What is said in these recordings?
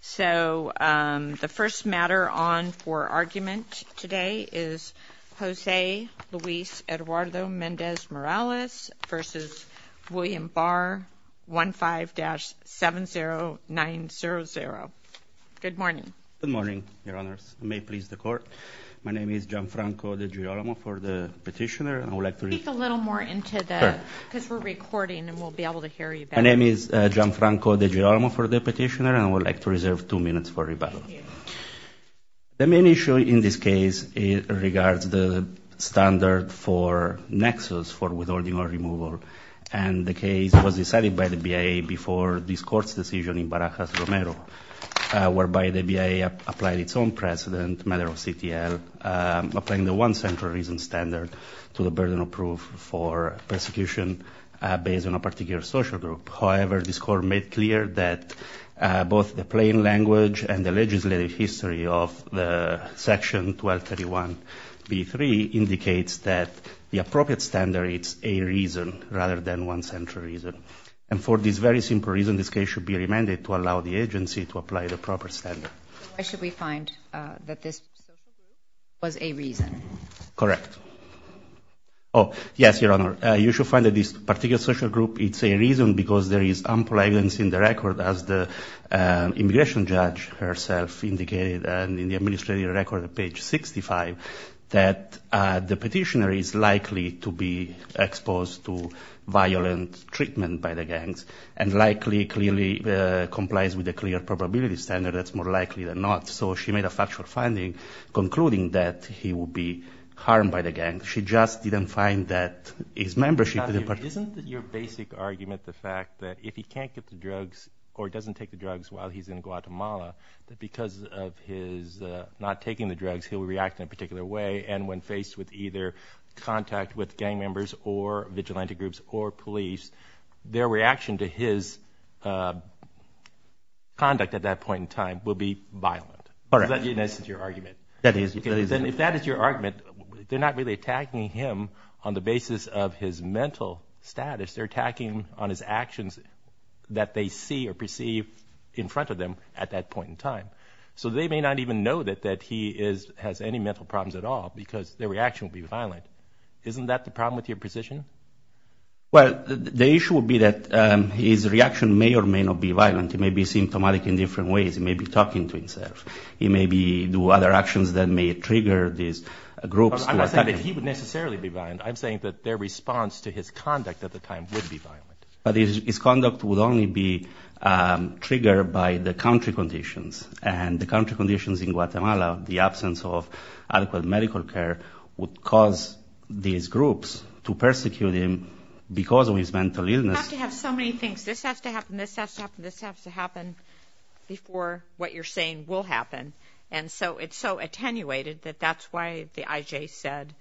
So the first matter on for argument today is Jose Luis Eduardo Mendez-Morales v. William Barr, 15-70900. Good morning. Good morning, Your Honors. May it please the court. My name is Gianfranco DeGirolamo for the petitioner. I would like to read a little more into that because we're recording and we'll be able to hear you. My name is Gianfranco DeGirolamo for the petitioner, and I would like to reserve two minutes for rebuttal. The main issue in this case regards the standard for nexus for withholding or removal. And the case was decided by the BIA before this court's decision in Barajas Romero, whereby the BIA applied its own precedent, matter of CTL, applying the one central reason standard to the burden of proof for persecution based on a particular social group. However, this court made clear that both the plain language and the legislative history of the Section 1231B3 indicates that the appropriate standard is a reason rather than one central reason. And for this very simple reason, this case should be remanded to allow the agency to apply the proper standard. Why should we find that this was a reason? Correct. Oh, yes, Your Honor. You should find that this particular social group, it's a reason because there is ample evidence in the record, as the immigration judge herself indicated in the administrative record, page 65, that the petitioner is likely to be exposed to violent treatment by the gangs and likely clearly complies with a clear probability standard. That's more likely than not. So she made a factual finding concluding that he would be harmed by the gang. She just didn't find that his membership to the party. Isn't your basic argument the fact that if he can't get the drugs or doesn't take the drugs while he's in Guatemala, that because of his not taking the drugs, he'll react in a particular way. And when faced with either contact with gang members or vigilante groups or police, their reaction to his conduct at that point in time will be violent. Correct. That's your argument. That is. If that is your argument, they're not really attacking him on the basis of his mental status. They're attacking on his actions that they see or perceive in front of them at that point in time. So they may not even know that he has any mental problems at all because their reaction will be violent. Isn't that the problem with your position? Well, the issue would be that his reaction may or may not be violent. He may be symptomatic in different ways. He may be talking to himself. He may be do other actions that may trigger these groups. I'm not saying that he would necessarily be violent. I'm saying that their response to his conduct at the time would be violent. But his conduct would only be triggered by the country conditions and the country conditions in Guatemala. The absence of adequate medical care would cause these groups to persecute him because of his mental illness. You have to have so many things. This has to happen. This has to happen. This has to happen before what you're saying will happen. And so it's so attenuated that that's why the IJ said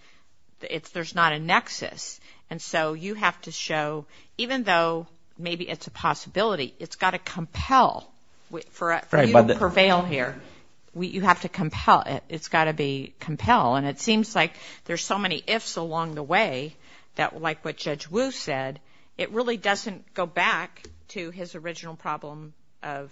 there's not a nexus. And so you have to show, even though maybe it's a possibility, it's got to compel. For you to prevail here, you have to compel. It's got to be compelled. And it seems like there's so many ifs along the way that, like what Judge Wu said, it really doesn't go back to his original problem of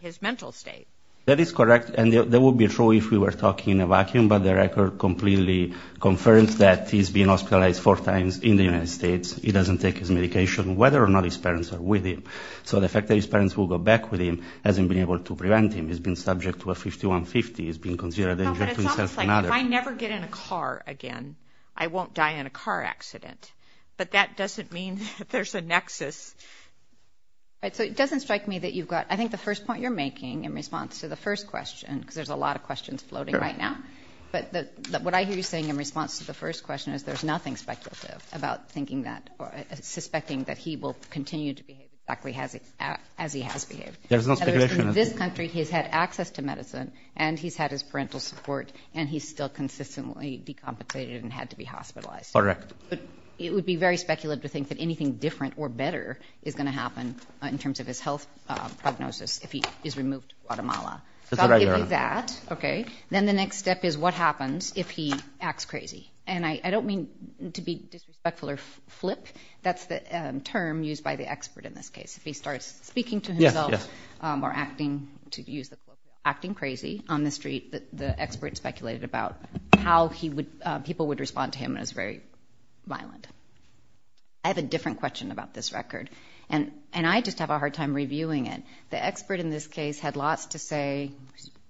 his mental state. That is correct. And that would be true if we were talking in a vacuum. But the record completely confirms that he's been hospitalized four times in the United States. He doesn't take his medication, whether or not his parents are with him. So the fact that his parents will go back with him hasn't been able to prevent him. He's been subject to a 51-50. He's been considered a danger to himself and others. If I never get in a car again, I won't die in a car accident. But that doesn't mean that there's a nexus. Right. So it doesn't strike me that you've got, I think the first point you're making in response to the first question, because there's a lot of questions floating right now. But what I hear you saying in response to the first question is there's nothing speculative about thinking that or suspecting that he will continue to behave exactly as he has behaved. There's no speculation. In this country, he's had access to medicine and he's had his parental support and he's still consistently decompensated and had to be hospitalized. Correct. But it would be very speculative to think that anything different or better is going to happen in terms of his health prognosis if he is removed to Guatemala. So I'll give you that, OK? Then the next step is what happens if he acts crazy? And I don't mean to be disrespectful or flip. That's the term used by the expert in this case. If he starts speaking to himself or acting, to use the quote, acting crazy on the street, the expert speculated about how people would respond to him and it's very violent. I have a different question about this record. And I just have a hard time reviewing it. The expert in this case had lots to say,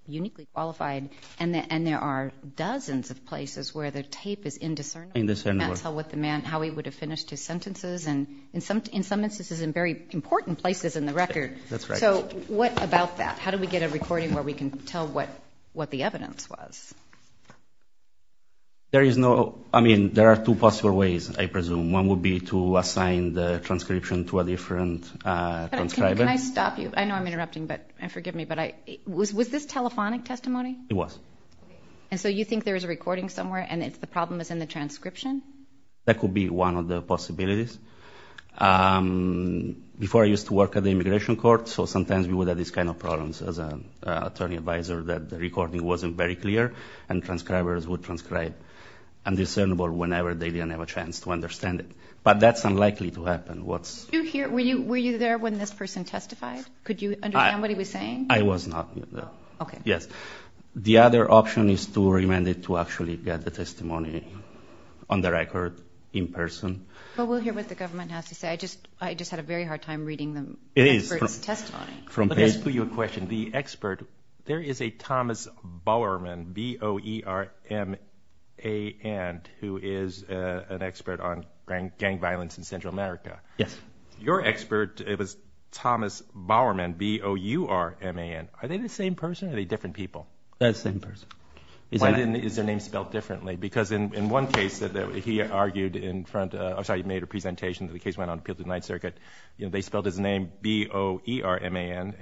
uniquely qualified, and there are dozens of places where the tape is indiscernible. Indiscernible. You can't tell what the man, how he would have finished his sentences and in some instances in very important places in the record. That's right. So what about that? How do we get a recording where we can tell what the evidence was? There is no, I mean, there are two possible ways, I presume. One would be to assign the transcription to a different transcriber. Can I stop you? I know I'm interrupting, but, and forgive me, but was this telephonic testimony? It was. And so you think there is a recording somewhere and the problem is in the transcription? That could be one of the possibilities. Before I used to work at the immigration court, so sometimes we would have this kind of problems as an attorney advisor that the recording wasn't very clear and transcribers would transcribe indiscernible whenever they didn't have a chance to understand it, but that's unlikely to happen. What's... Did you hear, were you there when this person testified? Could you understand what he was saying? I was not there. Okay. Yes. The other option is to remand it to actually get the testimony on the record in person. But we'll hear what the government has to say. I just, I just had a very hard time reading the expert's testimony. Let me ask you a question. The expert, there is a Thomas Bowerman, B-O-E-R-M-A-N, who is an expert on gang violence in Central America. Yes. Your expert, it was Thomas Bowerman, B-O-U-R-M-A-N. Are they the same person or are they different people? They're the same person. Why is their name spelled differently? Because in one case that he argued in front of, I'm sorry, he made a presentation that the case B-O-E-R-M-A-N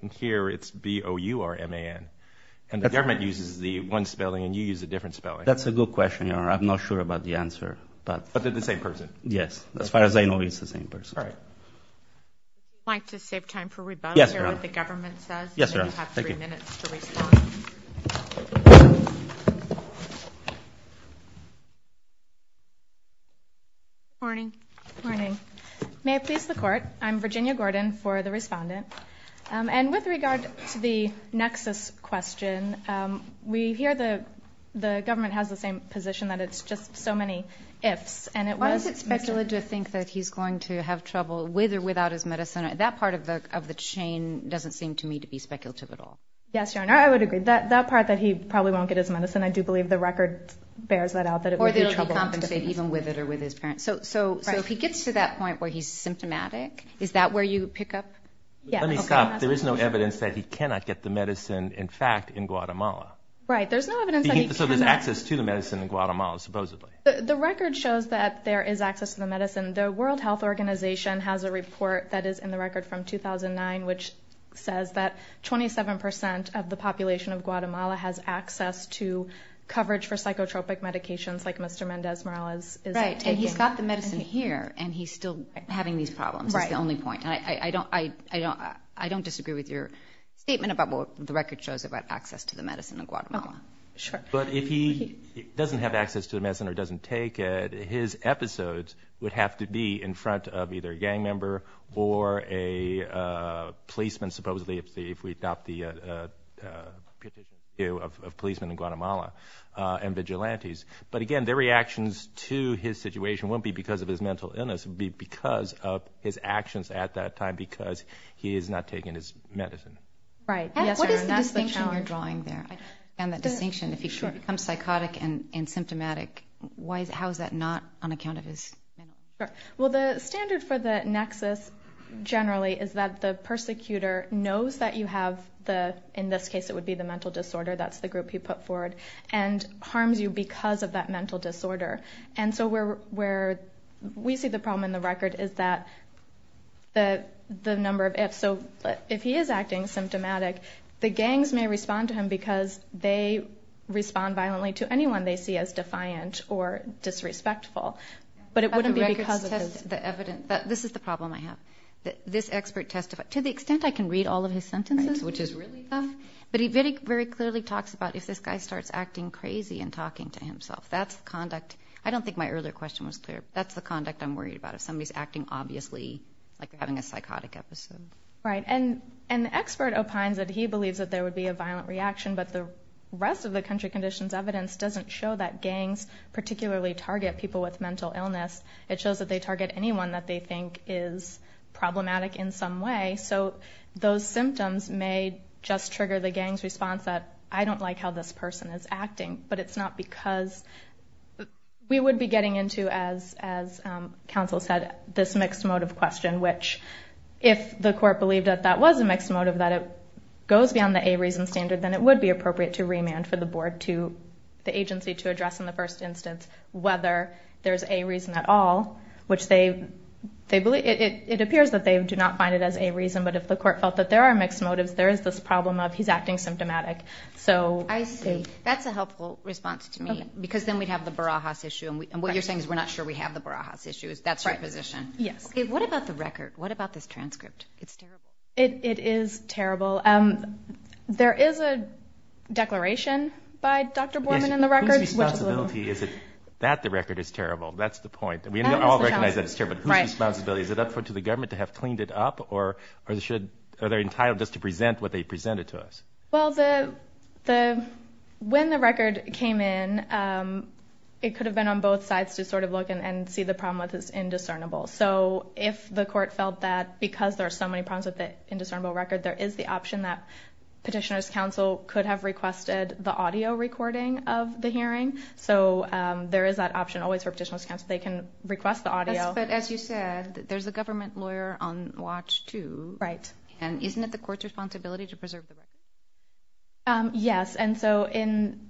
and here it's B-O-U-R-M-A-N and the government uses the one spelling and you use a different spelling. That's a good question, Your Honor. I'm not sure about the answer, but. But they're the same person. Yes. As far as I know, it's the same person. All right. I'd like to save time for rebuttal. Yes, Your Honor. Hear what the government says. Yes, Your Honor. Thank you. You have three minutes to respond. Morning. Morning. May I please the court? I'm Virginia Gordon for the respondent. And with regard to the nexus question, we hear the government has the same position that it's just so many ifs. And it wasn't speculated to think that he's going to have trouble with or without his medicine. That part of the of the chain doesn't seem to me to be speculative at all. Yes, Your Honor. I would agree that that part that he probably won't get his medicine. I do believe the record bears that out that it will be compensated even with it or with his parents. So so so if he gets to that point where he's symptomatic, is that where you pick up? Yeah, let me stop. There is no evidence that he cannot get the medicine. In fact, in Guatemala. Right. There's no evidence. So there's access to the medicine in Guatemala, supposedly. The record shows that there is access to the medicine. The World Health Organization has a report that is in the record from 2009, which says that 27 percent of the population of Guatemala has access to coverage for psychotropic medications like Mr. Andes Morales. Right. And he's got the medicine here and he's still having these problems. Right. The only point I don't I don't I don't disagree with your statement about what the record shows about access to the medicine in Guatemala. Sure. But if he doesn't have access to the medicine or doesn't take it, his episodes would have to be in front of either a gang member or a policeman, supposedly, if we adopt the view of policemen in Guatemala and vigilantes. But again, their reactions to his situation won't be because of his mental illness, but because of his actions at that time, because he is not taking his medicine. Right. Yes. What is the distinction you're drawing there? And that distinction, if he becomes psychotic and symptomatic, how is that not on account of his? Well, the standard for the nexus generally is that the persecutor knows that you have the in this case, it would be the mental disorder. That's the group he put forward and harms you because of that mental disorder. And so we're where we see the problem in the record is that the the number of it. So if he is acting symptomatic, the gangs may respond to him because they respond violently to anyone they see as defiant or disrespectful. But it wouldn't be because of the evidence. This is the problem I have that this expert testified to the extent I can read all of his sentences, which is really tough. But he very, very clearly talks about if this guy starts acting crazy and talking to himself, that's conduct. I don't think my earlier question was clear. That's the conduct I'm worried about. If somebody's acting obviously like having a psychotic episode. Right. And an expert opines that he believes that there would be a violent reaction. But the rest of the country conditions evidence doesn't show that gangs particularly target people with mental illness. It shows that they target anyone that they think is problematic in some way. So those symptoms may just trigger the gang's response that I don't like how this person is acting. But it's not because we would be getting into, as as counsel said, this mixed motive question, which if the court believed that that was a mixed motive, that it goes beyond the a reason standard, then it would be appropriate to remand for the board to the agency to address in the first instance, whether there's a reason at all. Which they they believe it appears that they do not find it as a reason. But if the court felt that there are mixed motives, there is this problem of he's acting symptomatic. So I see that's a helpful response to me, because then we'd have the Barajas issue. And what you're saying is we're not sure we have the Barajas issues. That's right position. Yes. What about the record? What about this transcript? It's terrible. It is terrible. There is a declaration by Dr. Borman in the records. Whose responsibility is it that the record is terrible? That's the point. We all recognize that it's terrible, but whose responsibility is it up to the government to have cleaned it up? Or are they entitled just to present what they presented to us? Well, when the record came in, it could have been on both sides to sort of look and see the problem with this indiscernible. So if the court felt that because there are so many problems with the indiscernible record, there is the option that Petitioner's counsel could have requested the audio recording of the hearing. They can request the audio. But as you said, there's a government lawyer on watch, too. Right. And isn't it the court's responsibility to preserve the record? Yes. And so in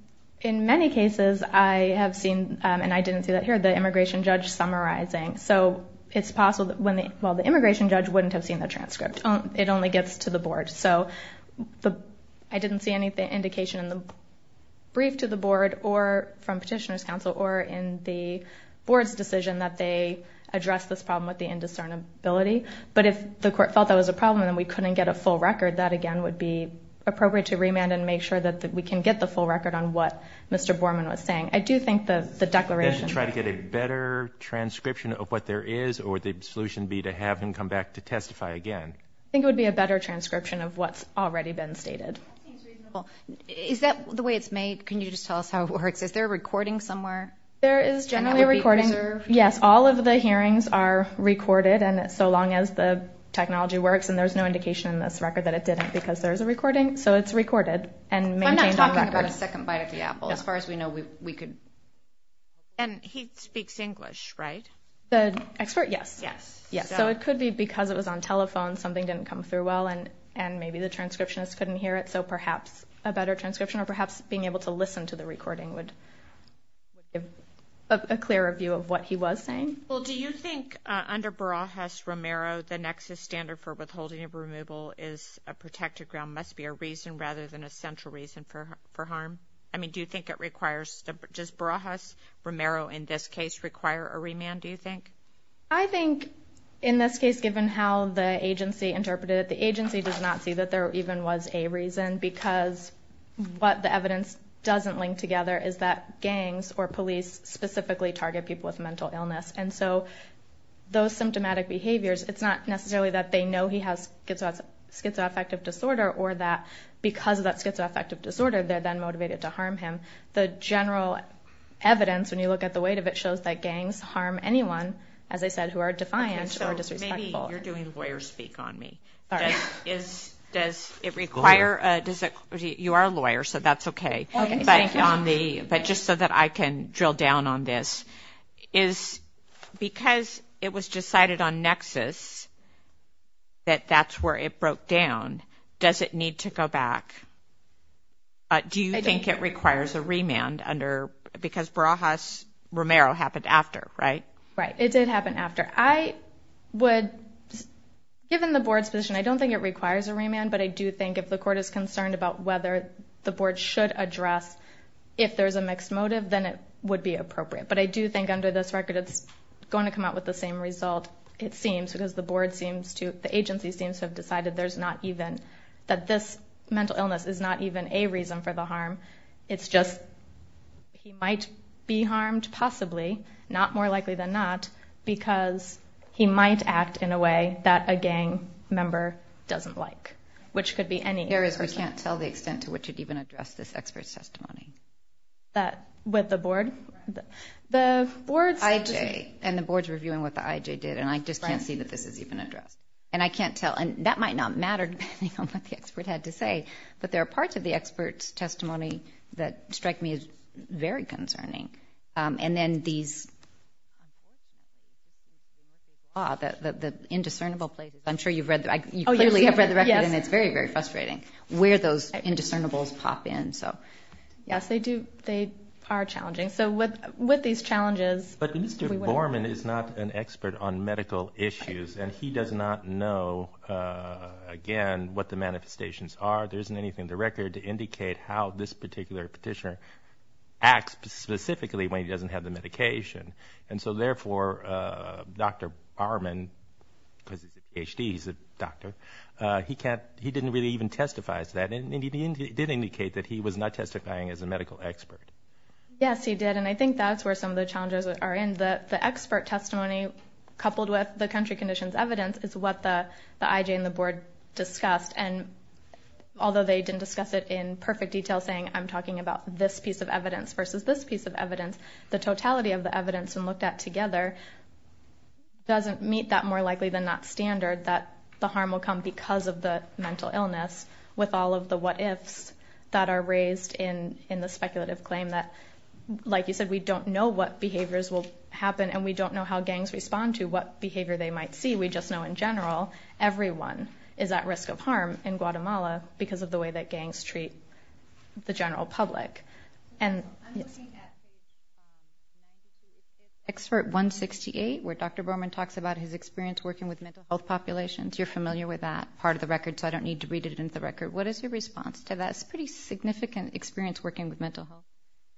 many cases I have seen, and I didn't see that here, the immigration judge summarizing. So it's possible that when the immigration judge wouldn't have seen the transcript, it only gets to the board. So I didn't see any indication in the brief to the board or from Petitioner's counsel or in the board's decision that they address this problem with the indiscernible ability. But if the court felt that was a problem and we couldn't get a full record, that again would be appropriate to remand and make sure that we can get the full record on what Mr. Borman was saying. I do think that the declaration. Try to get a better transcription of what there is or the solution be to have him come back to testify again. I think it would be a better transcription of what's already been stated. Is that the way it's made? Can you just tell us how it works? Is there a recording somewhere? There is generally a recording. Yes. All of the hearings are recorded. And so long as the technology works. And there's no indication in this record that it didn't because there's a recording. So it's recorded. And I'm not talking about a second bite of the apple as far as we know we could. And he speaks English, right? The expert? Yes. Yes. Yes. So it could be because it was on telephone, something didn't come through well, and maybe the transcriptionist couldn't hear it. So perhaps a better transcription or perhaps being able to listen to the recording would give a clearer view of what he was saying. Well, do you think under Barajas-Romero, the nexus standard for withholding of removal is a protected ground must be a reason rather than a central reason for harm? I mean, do you think it requires, does Barajas-Romero in this case require a remand, do you think? I think in this case, given how the agency interpreted it, the agency does not see that there even was a reason because what the evidence doesn't link together is that gangs or police specifically target people with mental illness. And so those symptomatic behaviors, it's not necessarily that they know he has schizoaffective disorder or that because of that schizoaffective disorder, they're then motivated to harm him. The general evidence, when you look at the weight of it, shows that gangs harm anyone, as I said, who are defiant or disrespectful. So maybe you're doing lawyer speak on me. Does it require, you are a lawyer, so that's okay, but just so that I can drill down on this, is because it was decided on nexus that that's where it broke down, does it need to go back? Do you think it requires a remand under, because Barajas-Romero happened after, right? Right, it did happen after. I would, given the board's position, I don't think it requires a remand, but I do think if the court is concerned about whether the board should address if there's a mixed motive, then it would be appropriate. But I do think under this record, it's going to come out with the same result, it seems, because the board seems to, the agency seems to have decided there's not even, that this mental illness is not even a reason for the harm, it's just he might be harmed possibly, not more likely than not, because he might act in a way that a gang member doesn't like, which could be any. There is, we can't tell the extent to which you'd even address this expert's testimony. That, with the board, the board's. IJ, and the board's reviewing what the IJ did, and I just can't see that this is even addressed, and I can't tell, and that might not matter, depending on what the expert had to say, but there are parts of the expert's testimony that strike me as very concerning, and then these, the indiscernible places, I'm sure you've read, you clearly have read the record, and it's very, very frustrating where those indiscernibles pop in, so. Yes, they do, they are challenging, so with these challenges. But Mr. Borman is not an expert on medical issues, and he does not know, again, what the manifestations are. There isn't anything in the record to indicate how this particular petitioner acts specifically when he doesn't have the medication, and so, therefore, Dr. Borman, because HD, he's a doctor, he can't, he didn't really even testify to that. And he did indicate that he was not testifying as a medical expert. Yes, he did, and I think that's where some of the challenges are in. The expert testimony, coupled with the country conditions evidence, is what the IJ and the board discussed, and although they didn't discuss it in perfect detail, saying, I'm talking about this piece of evidence versus this piece of evidence, the totality of the evidence, when looked at together, doesn't meet that more likely than not standard, that the harm will come because of the mental illness, with all of the what-ifs that are raised in the speculative claim that, like you said, we don't know what behaviors will happen, and we don't know how gangs respond to what behavior they might see. We just know, in general, everyone is at risk of harm in Guatemala because of the way that gangs treat the general public. And I'm looking at expert 168, where Dr. Borman talks about his experience working with mental health populations. You're familiar with that part of the record, so I don't need to read it into the record. What is your response to that? It's a pretty significant experience working with mental health.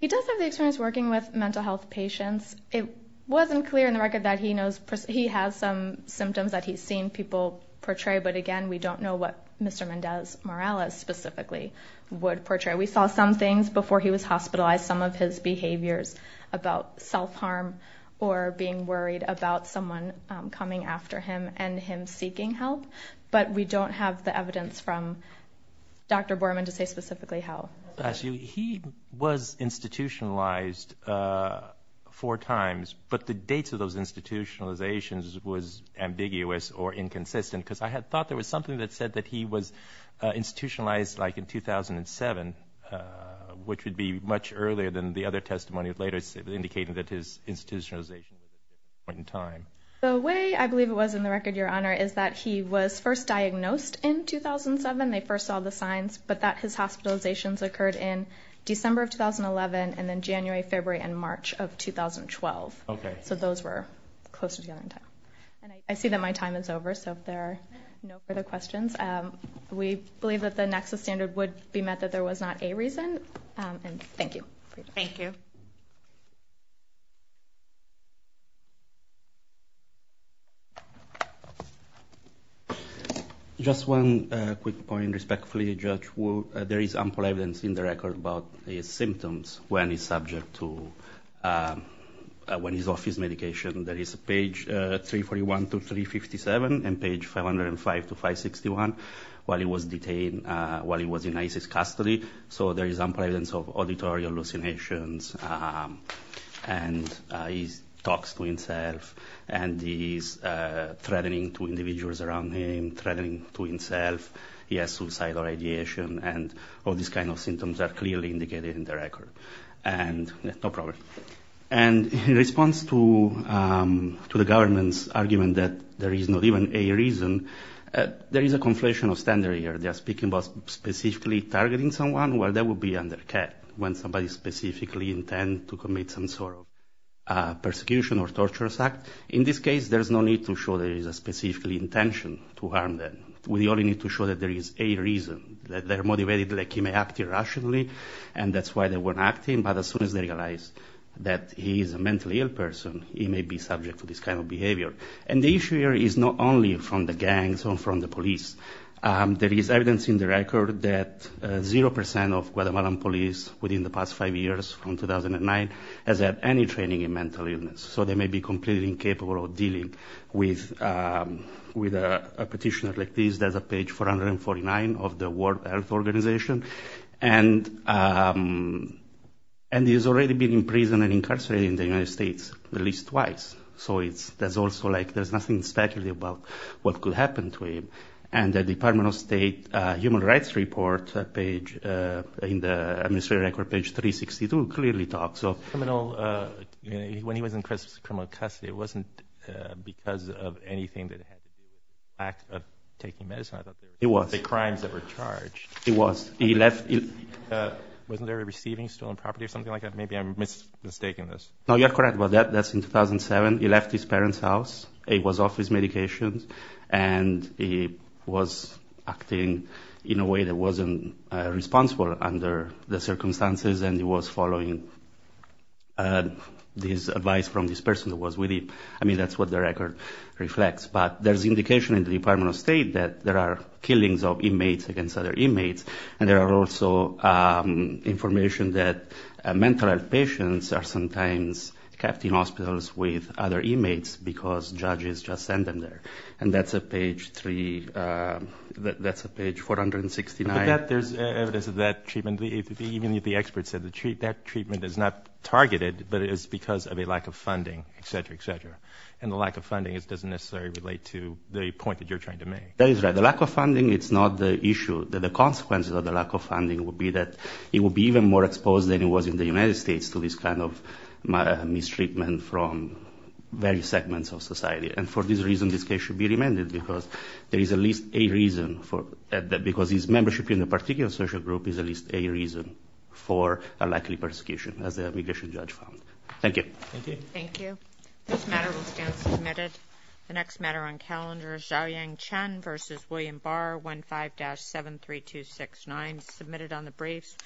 He does have the experience working with mental health patients. It wasn't clear in the record that he has some symptoms that he's seen people portray, but again, we don't know what Mr. Mendez-Morales specifically would portray. We saw some things before he was hospitalized, some of his behaviors about self-harm or being worried about someone coming after him and him seeking help, but we don't have the evidence from Dr. Borman to say specifically how. Actually, he was institutionalized four times, but the dates of those institutionalizations was ambiguous or inconsistent, because I had thought there was something that said that he was institutionalized, like, in 2007, which would be much earlier than the other testimony later indicating that his institutionalization was at a different point in time. The way I believe it was in the record, Your Honor, is that he was first diagnosed in 2007. They first saw the signs, but that his hospitalizations occurred in December of 2011 and then January, February, and March of 2012, so those were closer together in time, and I see that my time is over, so if there are no further questions, we believe that the NEXUS standard would be met, that there was not a reason, and thank you for your time. Thank you. Just one quick point, respectfully, Judge, there is ample evidence in the record about his symptoms when he's subject to, when he's off his medication, there is page 341 to 357 and page 505 to 561, while he was detained, while he was in ICE's custody, so there is ample evidence of auditory hallucinations, and he talks to himself, and he's threatening to individuals around him, threatening to himself, he has suicidal ideation, and all these kind of symptoms are clearly indicated in the record, and, no problem, and in response to the government's argument that there is not even a reason, there is a conflation of standards here. In this case, there's no need to show there is a specific intention to harm them. We only need to show that there is a reason, that they're motivated, like he may act irrationally, and that's why they weren't acting, but as soon as they realize that he is a mentally ill person, he may be subject to this kind of behavior, and the issue here is not only from the gangs or from the police. There is evidence in the record that 0% of Guatemalan police within the past five years, from 2009, has had any training in mental illness, so they may be completely incapable of dealing with a petitioner like this. In this case, there's a page 449 of the World Health Organization, and he's already been in prison and incarcerated in the United States at least twice, so there's nothing speculative about what could happen to him, and the Department of State Human Rights Report, in the Administrative Record, page 362, clearly talks of... When he was in criminal custody, it wasn't because of anything that had to do with the act of taking medicine. I thought it was the crimes that were charged. It was. Wasn't there a receiving stolen property or something like that? Maybe I'm mistaking this. No, you're correct about that. That's in 2007. He left his parents' house. He was off his medications, and he was acting in a way that wasn't responsible under the circumstances, and he was following this advice from this person that was with him. I mean, that's what the record reflects, but there's indication in the Department of State that there are killings of inmates against other inmates, and there are also information that mental health patients are sometimes kept in hospitals with other inmates because judges just send them there, and that's a page 469. There's evidence of that treatment. Even the experts said that treatment is not targeted, but it is because of a lack of funding, etc., etc., and the lack of funding doesn't necessarily relate to the point that you're trying to make. That is right. The lack of funding, it's not the issue. The consequences of the lack of funding would be that he would be even more exposed than he was in the United States to this kind of mistreatment from various segments of society, and for this reason, this case should be remanded because there is at least a reason, because his membership in a particular social group is at least a reason for a likely persecution, as the immigration judge found. Thank you. Thank you. This matter will stand submitted. The next matter on calendar is Zhaoyang Chen v. William Barr, 15-73269, submitted on the briefs.